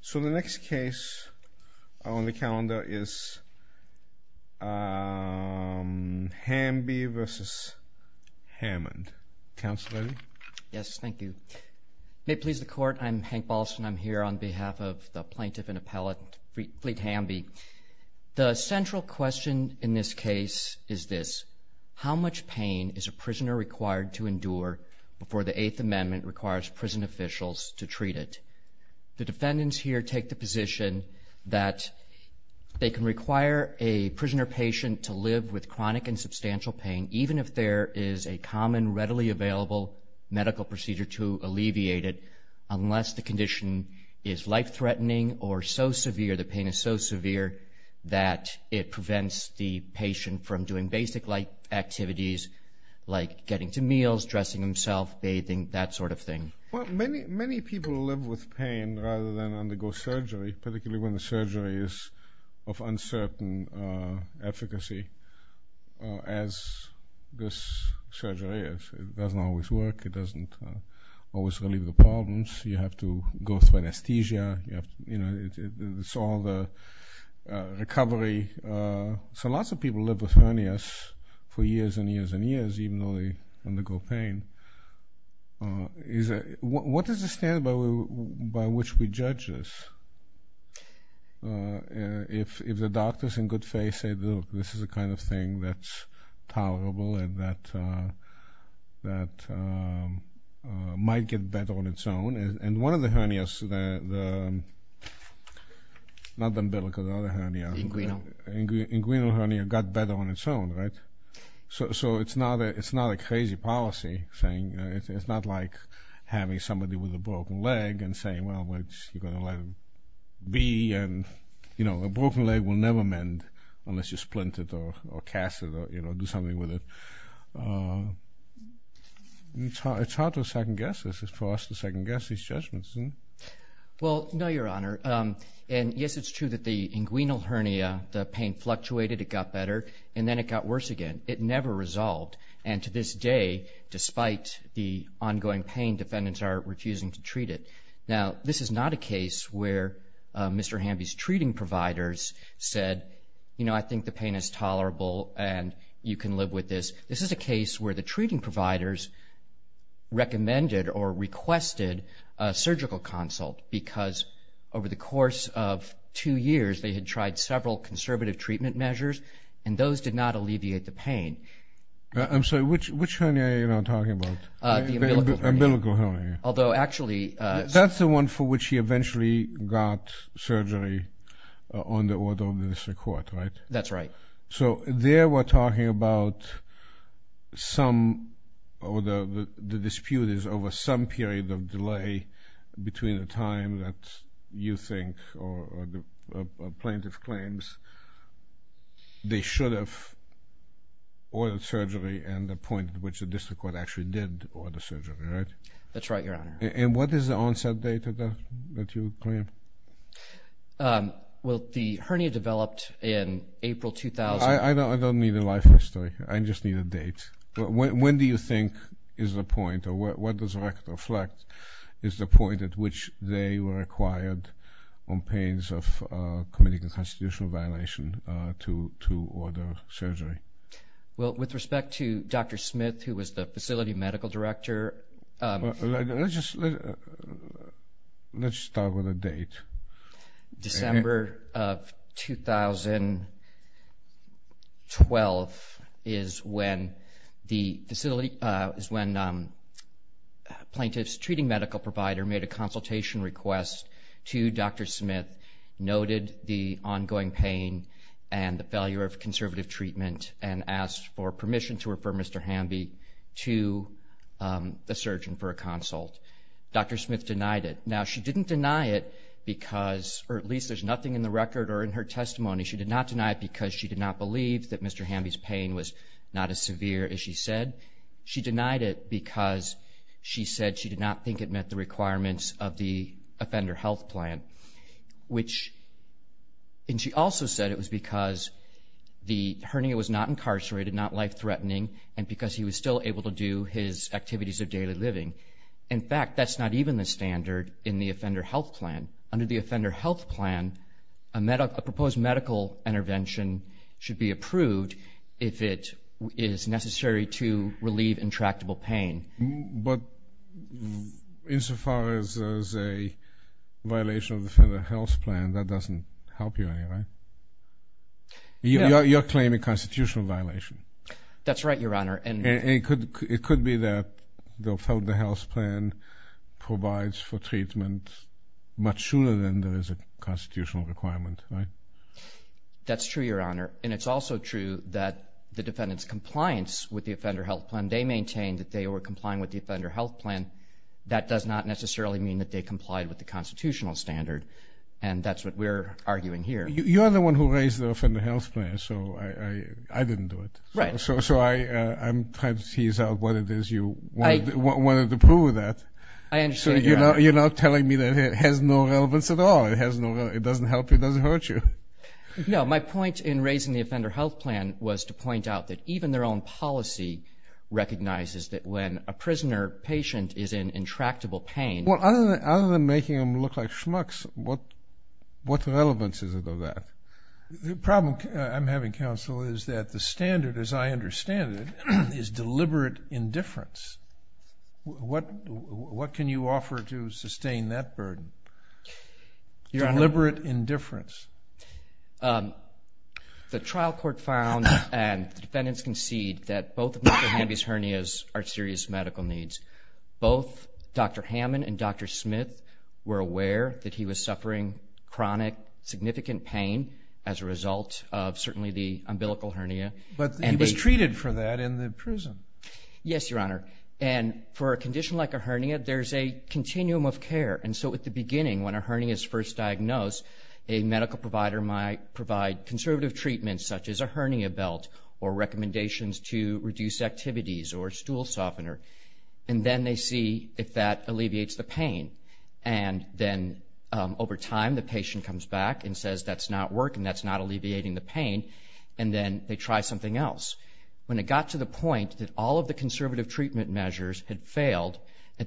So the next case on the calendar is Hamby v. Hammond. Counselor? Yes, thank you. May it please the Court, I'm Hank Balson. I'm here on behalf of the plaintiff and appellate, Fleet Hamby. The central question in this case is this. How much pain is a prisoner required to endure before the Eighth Amendment requires prison officials to treat it? The defendants here take the position that they can require a prisoner patient to live with chronic and substantial pain, even if there is a common, readily available medical procedure to alleviate it, unless the condition is life-threatening or so severe, the pain is so severe that it prevents the patient from doing basic activities like getting to meals, dressing himself, bathing, that sort of thing. Well, many people live with pain rather than undergo surgery, particularly when the surgery is of uncertain efficacy, as this surgery is. It doesn't always work. It doesn't always relieve the problems. You have to go through anesthesia. It's all the recovery. So lots of people live with hernias for years and years and years, even though they undergo pain. What is the standard by which we judge this? If the doctors in good faith say, look, this is the kind of thing that's tolerable and that might get better on its own, and one of the hernias, not the umbilical, the other hernia. The inguinal. The inguinal hernia got better on its own, right? So it's not a crazy policy thing. It's not like having somebody with a broken leg and saying, well, you're going to let it be, and a broken leg will never mend unless you splint it or cast it or do something with it. It's hard to second guess. It's for us to second guess these judgments. Well, no, Your Honor. And yes, it's true that the inguinal hernia, the pain fluctuated. It got better. And then it got worse again. It never resolved. And to this day, despite the ongoing pain, defendants are refusing to treat it. Now, this is not a case where Mr. Hamby's treating providers said, you know, I think the pain is tolerable and you can live with this. This is a case where the treating providers recommended or requested a surgical consult because over the course of two years they had tried several conservative treatment measures, and those did not alleviate the pain. I'm sorry, which hernia are you now talking about? The umbilical hernia. The umbilical hernia. Although, actually. That's the one for which he eventually got surgery on the order of the district court, right? That's right. So there we're talking about some, or the dispute is over some period of delay between the time that you think or the plaintiff claims they should have ordered surgery and the point at which the district court actually did order surgery, right? That's right, Your Honor. And what is the onset date that you claim? Well, the hernia developed in April 2000. I don't need a life history. I just need a date. When do you think is the point, or what does that reflect, is the point at which they were acquired on pains of committing a constitutional violation to order surgery? Well, with respect to Dr. Smith, who was the facility medical director. Let's just start with a date. December of 2012 is when the facility, is when plaintiff's treating medical provider made a consultation request to Dr. Smith, noted the ongoing pain and the failure of conservative treatment, and asked for permission to refer Mr. Hamby to the surgeon for a consult. Dr. Smith denied it. Now, she didn't deny it because, or at least there's nothing in the record or in her testimony, she did not deny it because she did not believe that Mr. Hamby's pain was not as severe as she said. She denied it because she said she did not think it met the requirements of the offender health plan, which, and she also said it was because the hernia was not incarcerated, not life-threatening, and because he was still able to do his activities of daily living. In fact, that's not even the standard in the offender health plan. Under the offender health plan, a proposed medical intervention should be approved if it is necessary to relieve intractable pain. But insofar as there's a violation of the offender health plan, that doesn't help you anyway. You're claiming constitutional violation. That's right, Your Honor. And it could be that the offender health plan provides for treatment much sooner than there is a constitutional requirement, right? That's true, Your Honor. And it's also true that the defendant's compliance with the offender health plan, when they maintain that they were complying with the offender health plan, that does not necessarily mean that they complied with the constitutional standard, and that's what we're arguing here. You're the one who raised the offender health plan, so I didn't do it. Right. So I'm trying to tease out what it is you wanted to prove with that. I understand, Your Honor. So you're not telling me that it has no relevance at all. It doesn't help you. It doesn't hurt you. No, my point in raising the offender health plan was to point out that even their own policy recognizes that when a prisoner patient is in intractable pain. Well, other than making them look like schmucks, what relevance is it of that? The problem I'm having, counsel, is that the standard, as I understand it, is deliberate indifference. What can you offer to sustain that burden? Deliberate indifference. The trial court found, and the defendants concede, that both of Dr. Hamby's hernias are serious medical needs. Both Dr. Hammond and Dr. Smith were aware that he was suffering chronic, significant pain as a result of certainly the umbilical hernia. But he was treated for that in the prison. Yes, Your Honor. And for a condition like a hernia, there's a continuum of care. And so at the beginning, when a hernia is first diagnosed, a medical provider might provide conservative treatments, such as a hernia belt or recommendations to reduce activities or a stool softener, and then they see if that alleviates the pain. And then over time, the patient comes back and says, that's not working, that's not alleviating the pain, and then they try something else. At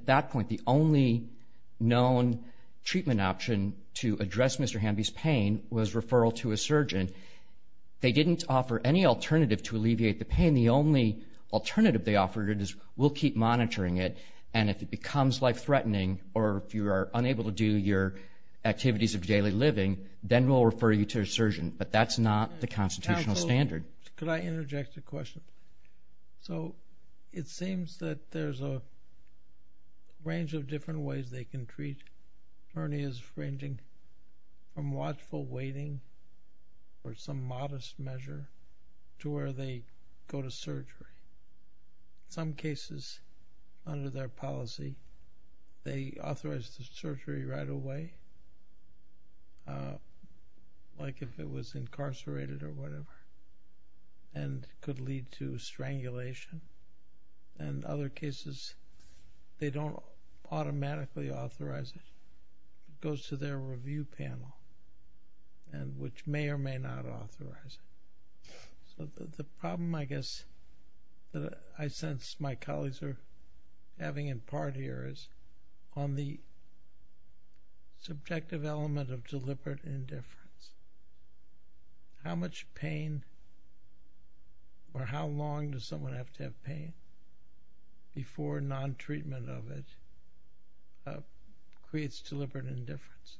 that point, the only known treatment option to address Mr. Hamby's pain was referral to a surgeon. They didn't offer any alternative to alleviate the pain. The only alternative they offered is, we'll keep monitoring it, and if it becomes life-threatening or if you are unable to do your activities of daily living, then we'll refer you to a surgeon. But that's not the constitutional standard. Counsel, could I interject a question? So it seems that there's a range of different ways they can treat hernias, ranging from watchful waiting or some modest measure to where they go to surgery. Some cases, under their policy, they authorize the surgery right away, like if it was incarcerated or whatever, and could lead to strangulation. And other cases, they don't automatically authorize it. It goes to their review panel, which may or may not authorize it. So the problem, I guess, that I sense my colleagues are having in part here is on the subjective element of deliberate indifference. How much pain or how long does someone have to have pain before non-treatment of it creates deliberate indifference?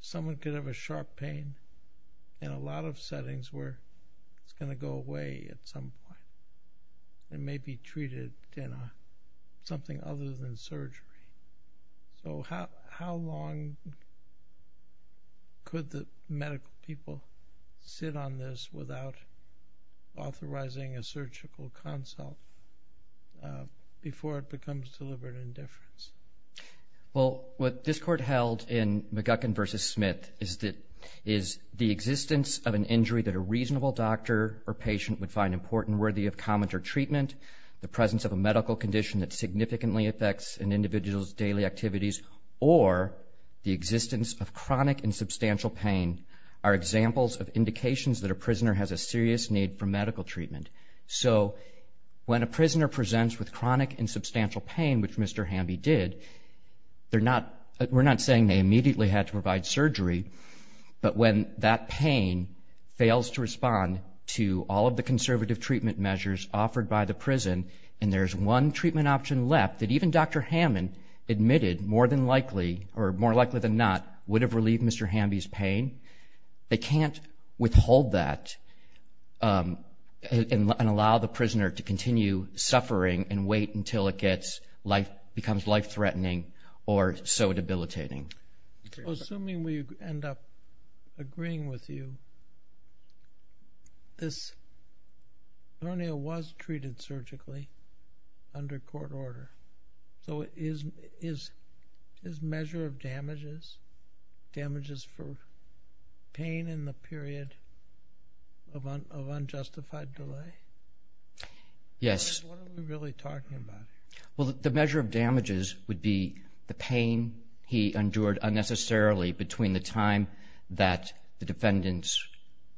Someone could have a sharp pain in a lot of settings where it's going to go away at some point. So how long could the medical people sit on this without authorizing a surgical consult before it becomes deliberate indifference? Well, what this court held in McGuckin v. Smith is the existence of an injury that a reasonable doctor or patient would find important, worthy of comment or treatment, the presence of a medical condition that significantly affects an individual's daily activities, or the existence of chronic and substantial pain are examples of indications that a prisoner has a serious need for medical treatment. So when a prisoner presents with chronic and substantial pain, which Mr. Hamby did, we're not saying they immediately had to provide surgery, but when that pain fails to respond to all of the conservative treatment measures offered by the prison and there's one treatment option left that even Dr. Hammond admitted more likely than not would have relieved Mr. Hamby's pain, they can't withhold that and allow the prisoner to continue suffering and wait until it becomes life-threatening or so debilitating. Assuming we end up agreeing with you, this coroner was treated surgically under court order. So is measure of damages, damages for pain in the period of unjustified delay? Yes. What are we really talking about? Well, the measure of damages would be the pain he endured unnecessarily between the time that the defendants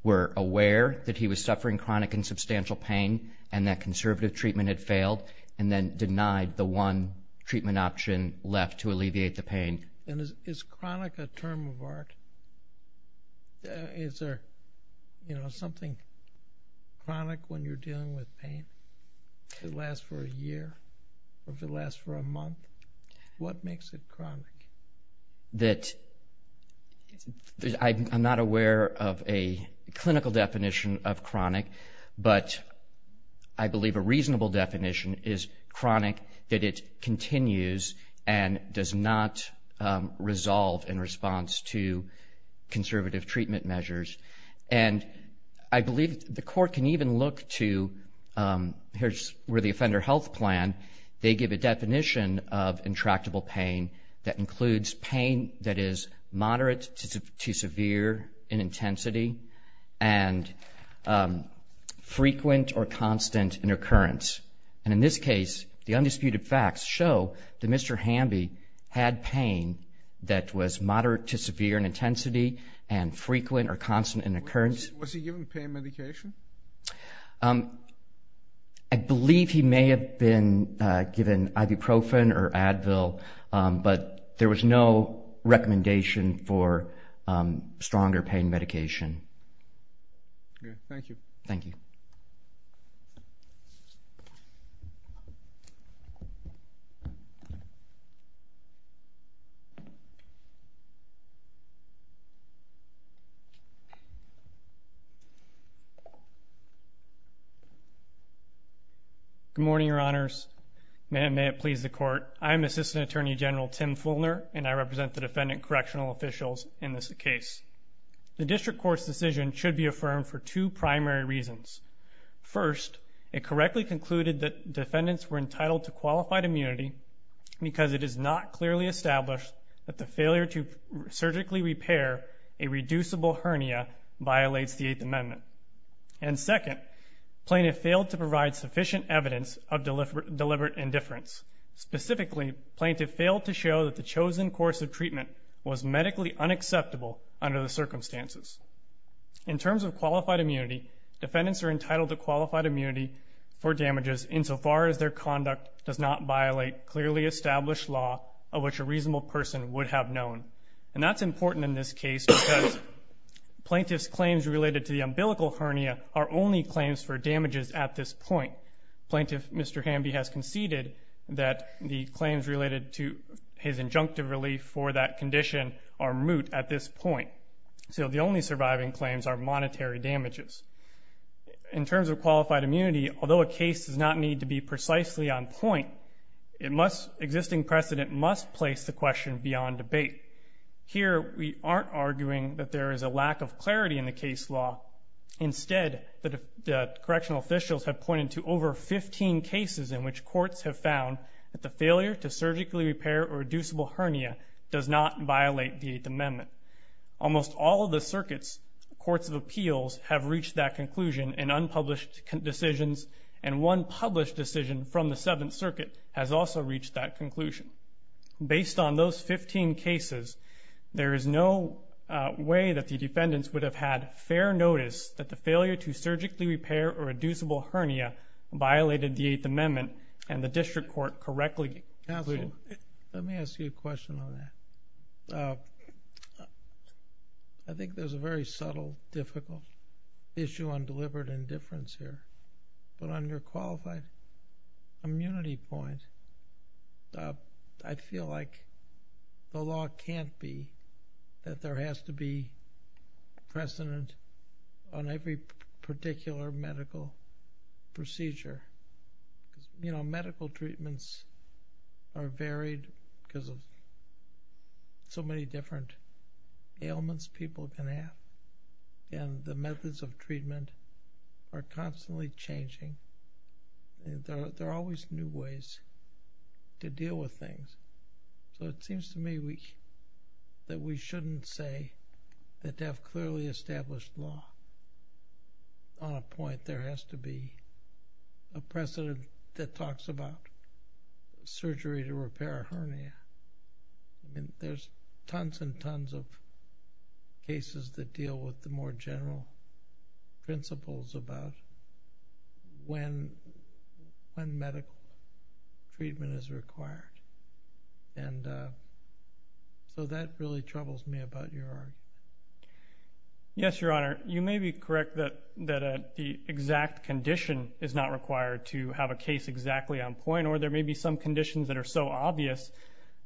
were aware that he was suffering chronic and substantial pain and that conservative treatment had failed and then denied the one treatment option left to alleviate the pain. Is chronic a term of art? Is there something chronic when you're dealing with pain? If it lasts for a year or if it lasts for a month, what makes it chronic? That I'm not aware of a clinical definition of chronic, but I believe a reasonable definition is chronic, that it continues and does not resolve in response to conservative treatment measures. And I believe the court can even look to where the offender health plan, they give a definition of intractable pain that includes pain that is moderate to severe in intensity and frequent or constant in occurrence. And in this case, the undisputed facts show that Mr. Hamby had pain that was moderate to severe in intensity and frequent or constant in occurrence. Was he given pain medication? I believe he may have been given ibuprofen or Advil, but there was no recommendation for stronger pain medication. Okay, thank you. Thank you. Good morning, Your Honors. May it please the court. I'm Assistant Attorney General Tim Fulner, and I represent the defendant correctional officials in this case. The district court's decision should be affirmed for two primary reasons. First, it correctly concluded that defendants were entitled to qualified immunity because it is not clearly established that the failure to surgically repair a reducible hernia violates the Eighth Amendment. And second, plaintiff failed to provide sufficient evidence of deliberate indifference. Specifically, plaintiff failed to show that the chosen course of treatment was medically unacceptable under the circumstances. In terms of qualified immunity, defendants are entitled to qualified immunity for damages insofar as their conduct does not violate clearly established law of which a reasonable person would have known. And that's important in this case because plaintiff's claims related to the umbilical hernia are only claims for damages at this point. Plaintiff Mr. Hamby has conceded that the claims related to his injunctive relief for that condition are moot at this point. So the only surviving claims are monetary damages. In terms of qualified immunity, although a case does not need to be precisely on point, existing precedent must place the question beyond debate. Here we aren't arguing that there is a lack of clarity in the case law. Instead, the correctional officials have pointed to over 15 cases in which courts have found that the failure to surgically repair a reducible hernia does not violate the Eighth Amendment. Almost all of the circuits, courts of appeals, have reached that conclusion in unpublished decisions, and one published decision from the Seventh Circuit has also reached that conclusion. Based on those 15 cases, there is no way that the defendants would have had fair notice that the failure to surgically repair a reducible hernia violated the Eighth Amendment and the district court correctly concluded. Judge Goldberg Counsel, let me ask you a question on that. I think there's a very subtle, difficult issue on deliberate indifference here. But on your qualified immunity point, I feel like the law can't be that there has to be precedent on every particular medical procedure. You know, medical treatments are varied because of so many different ailments people can have, and the methods of treatment are constantly changing. There are always new ways to deal with things. So it seems to me that we shouldn't say that to have clearly established law on a point there has to be a precedent that talks about surgery to repair a hernia. There's tons and tons of cases that deal with the more general principles about when medical treatment is required. And so that really troubles me about your argument. Yes, Your Honor. You may be correct that the exact condition is not required to have a case exactly on point, or there may be some conditions that are so obvious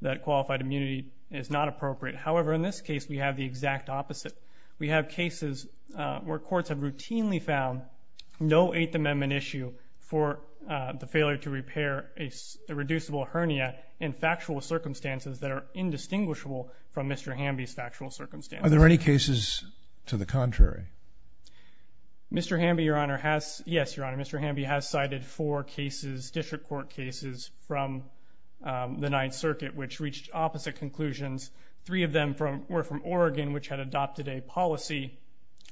that qualified immunity is not appropriate. However, in this case, we have the exact opposite. We have cases where courts have routinely found no Eighth Amendment issue for the failure to repair a reducible hernia in factual circumstances that are indistinguishable from Mr. Hamby's factual circumstances. Are there any cases to the contrary? Mr. Hamby, Your Honor, has... Yes, Your Honor, Mr. Hamby has cited four cases, district court cases, from the Ninth Circuit, which reached opposite conclusions. Three of them were from Oregon, one in which had adopted a policy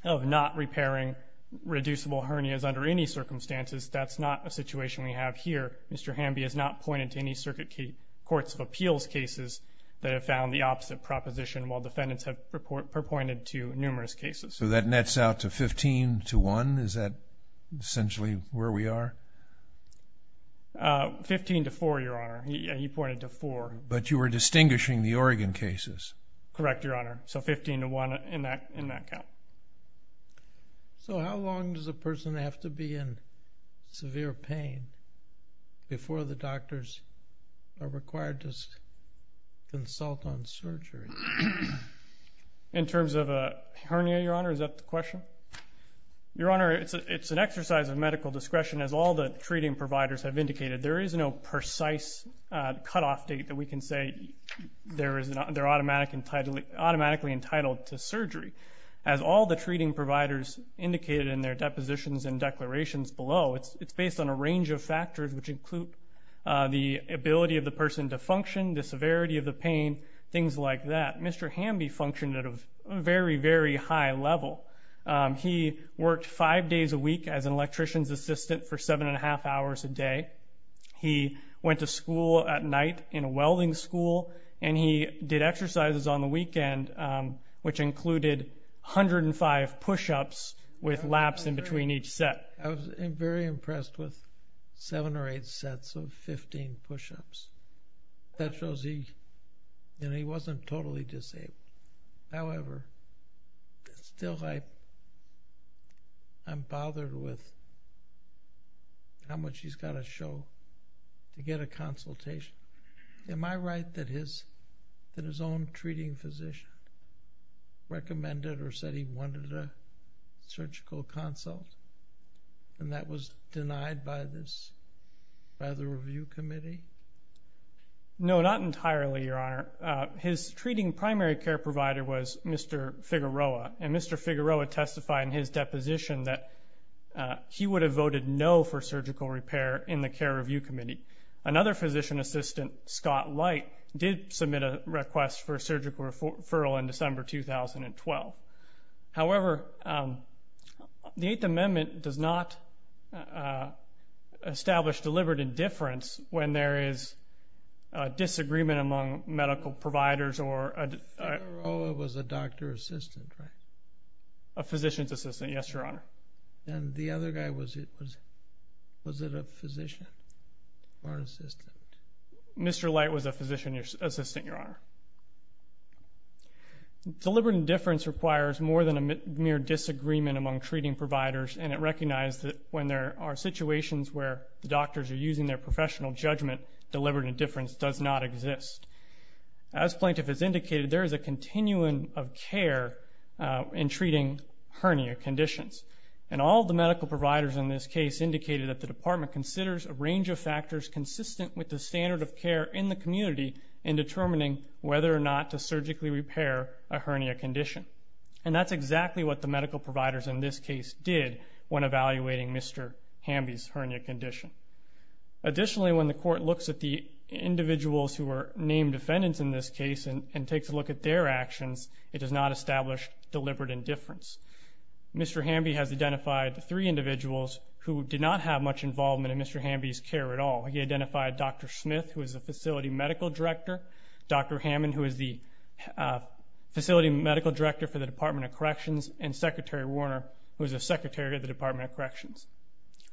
of not repairing reducible hernias under any circumstances. That's not a situation we have here. Mr. Hamby has not pointed to any Circuit Courts of Appeals cases that have found the opposite proposition, while defendants have purported to numerous cases. So that nets out to 15 to 1. Is that essentially where we are? 15 to 4, Your Honor. He pointed to 4. But you were distinguishing the Oregon cases. Correct, Your Honor. So 15 to 1 in that count. So how long does a person have to be in severe pain before the doctors are required to consult on surgery? In terms of a hernia, Your Honor, is that the question? Your Honor, it's an exercise of medical discretion. As all the treating providers have indicated, there is no precise cutoff date that we can say they're automatically entitled to surgery. As all the treating providers indicated in their depositions and declarations below, it's based on a range of factors which include the ability of the person to function, the severity of the pain, things like that. Mr. Hamby functioned at a very, very high level. He worked five days a week as an electrician's assistant for seven and a half hours a day. He went to school at night in a welding school, and he did exercises on the weekend, which included 105 push-ups with laps in between each set. I was very impressed with seven or eight sets of 15 push-ups. That shows he wasn't totally disabled. However, still I'm bothered with how much he's got to show to get a consultation. Am I right that his own treating physician recommended or said he wanted a surgical consult, and that was denied by the review committee? No, not entirely, Your Honor. His treating primary care provider was Mr. Figueroa, and Mr. Figueroa testified in his deposition that he would have voted no for surgical repair in the care review committee. Another physician assistant, Scott Light, did submit a request for a surgical referral in December 2012. However, the Eighth Amendment does not establish deliberate indifference when there is disagreement among medical providers or... Figueroa was a doctor assistant, right? A physician's assistant, yes, Your Honor. And the other guy, was it a physician or assistant? Mr. Light was a physician assistant, Your Honor. Deliberate indifference requires more than a mere disagreement among treating providers, and it recognizes that when there are situations where doctors are using their professional judgment, deliberate indifference does not exist. As Plaintiff has indicated, there is a continuum of care in treating hernia conditions. And all the medical providers in this case indicated that the Department considers a range of factors consistent with the standard of care in the community in determining whether or not to surgically repair a hernia condition. And that's exactly what the medical providers in this case did when evaluating Mr. Hamby's hernia condition. Additionally, when the court looks at the individuals who were named defendants in this case and takes a look at their actions, it does not establish deliberate indifference. Mr. Hamby has identified three individuals who did not have much involvement in Mr. Hamby's care at all. He identified Dr. Smith, who is a facility medical director, Dr. Hammond, who is the facility medical director for the Department of Corrections, and Secretary Warner, who is the secretary of the Department of Corrections.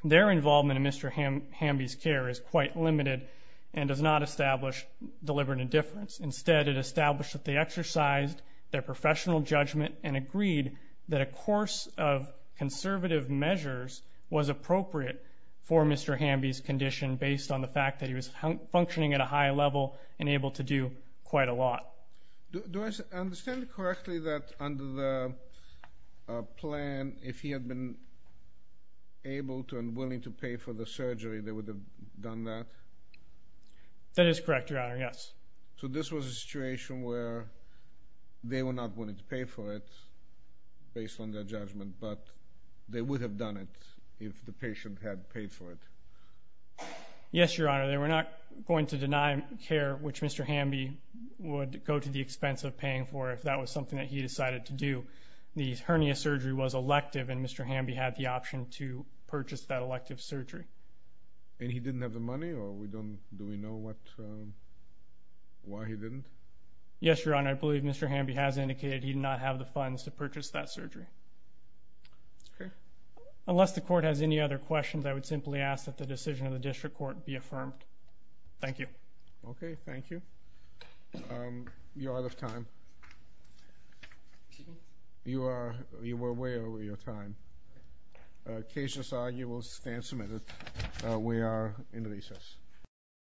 Their involvement in Mr. Hamby's care is quite limited and does not establish deliberate indifference. Instead, it established that they exercised their professional judgment and agreed that a course of conservative measures was appropriate for Mr. Hamby's condition based on the fact that he was functioning at a high level and able to do quite a lot. Do I understand correctly that under the plan, if he had been able to and willing to pay for the surgery, they would have done that? That is correct, Your Honor, yes. So this was a situation where they were not willing to pay for it based on their judgment, but they would have done it if the patient had paid for it? Yes, Your Honor, they were not going to deny care, which Mr. Hamby would go to the expense of paying for if that was something that he decided to do. The hernia surgery was elective, and Mr. Hamby had the option to purchase that elective surgery. And he didn't have the money, or do we know why he didn't? Yes, Your Honor, I believe Mr. Hamby has indicated he did not have the funds to purchase that surgery. Okay. Unless the court has any other questions, I would simply ask that the decision of the district court be affirmed. Thank you. Okay, thank you. You're out of time. Excuse me? You were way over your time. Case decided, you will stand submitted. We are in recess.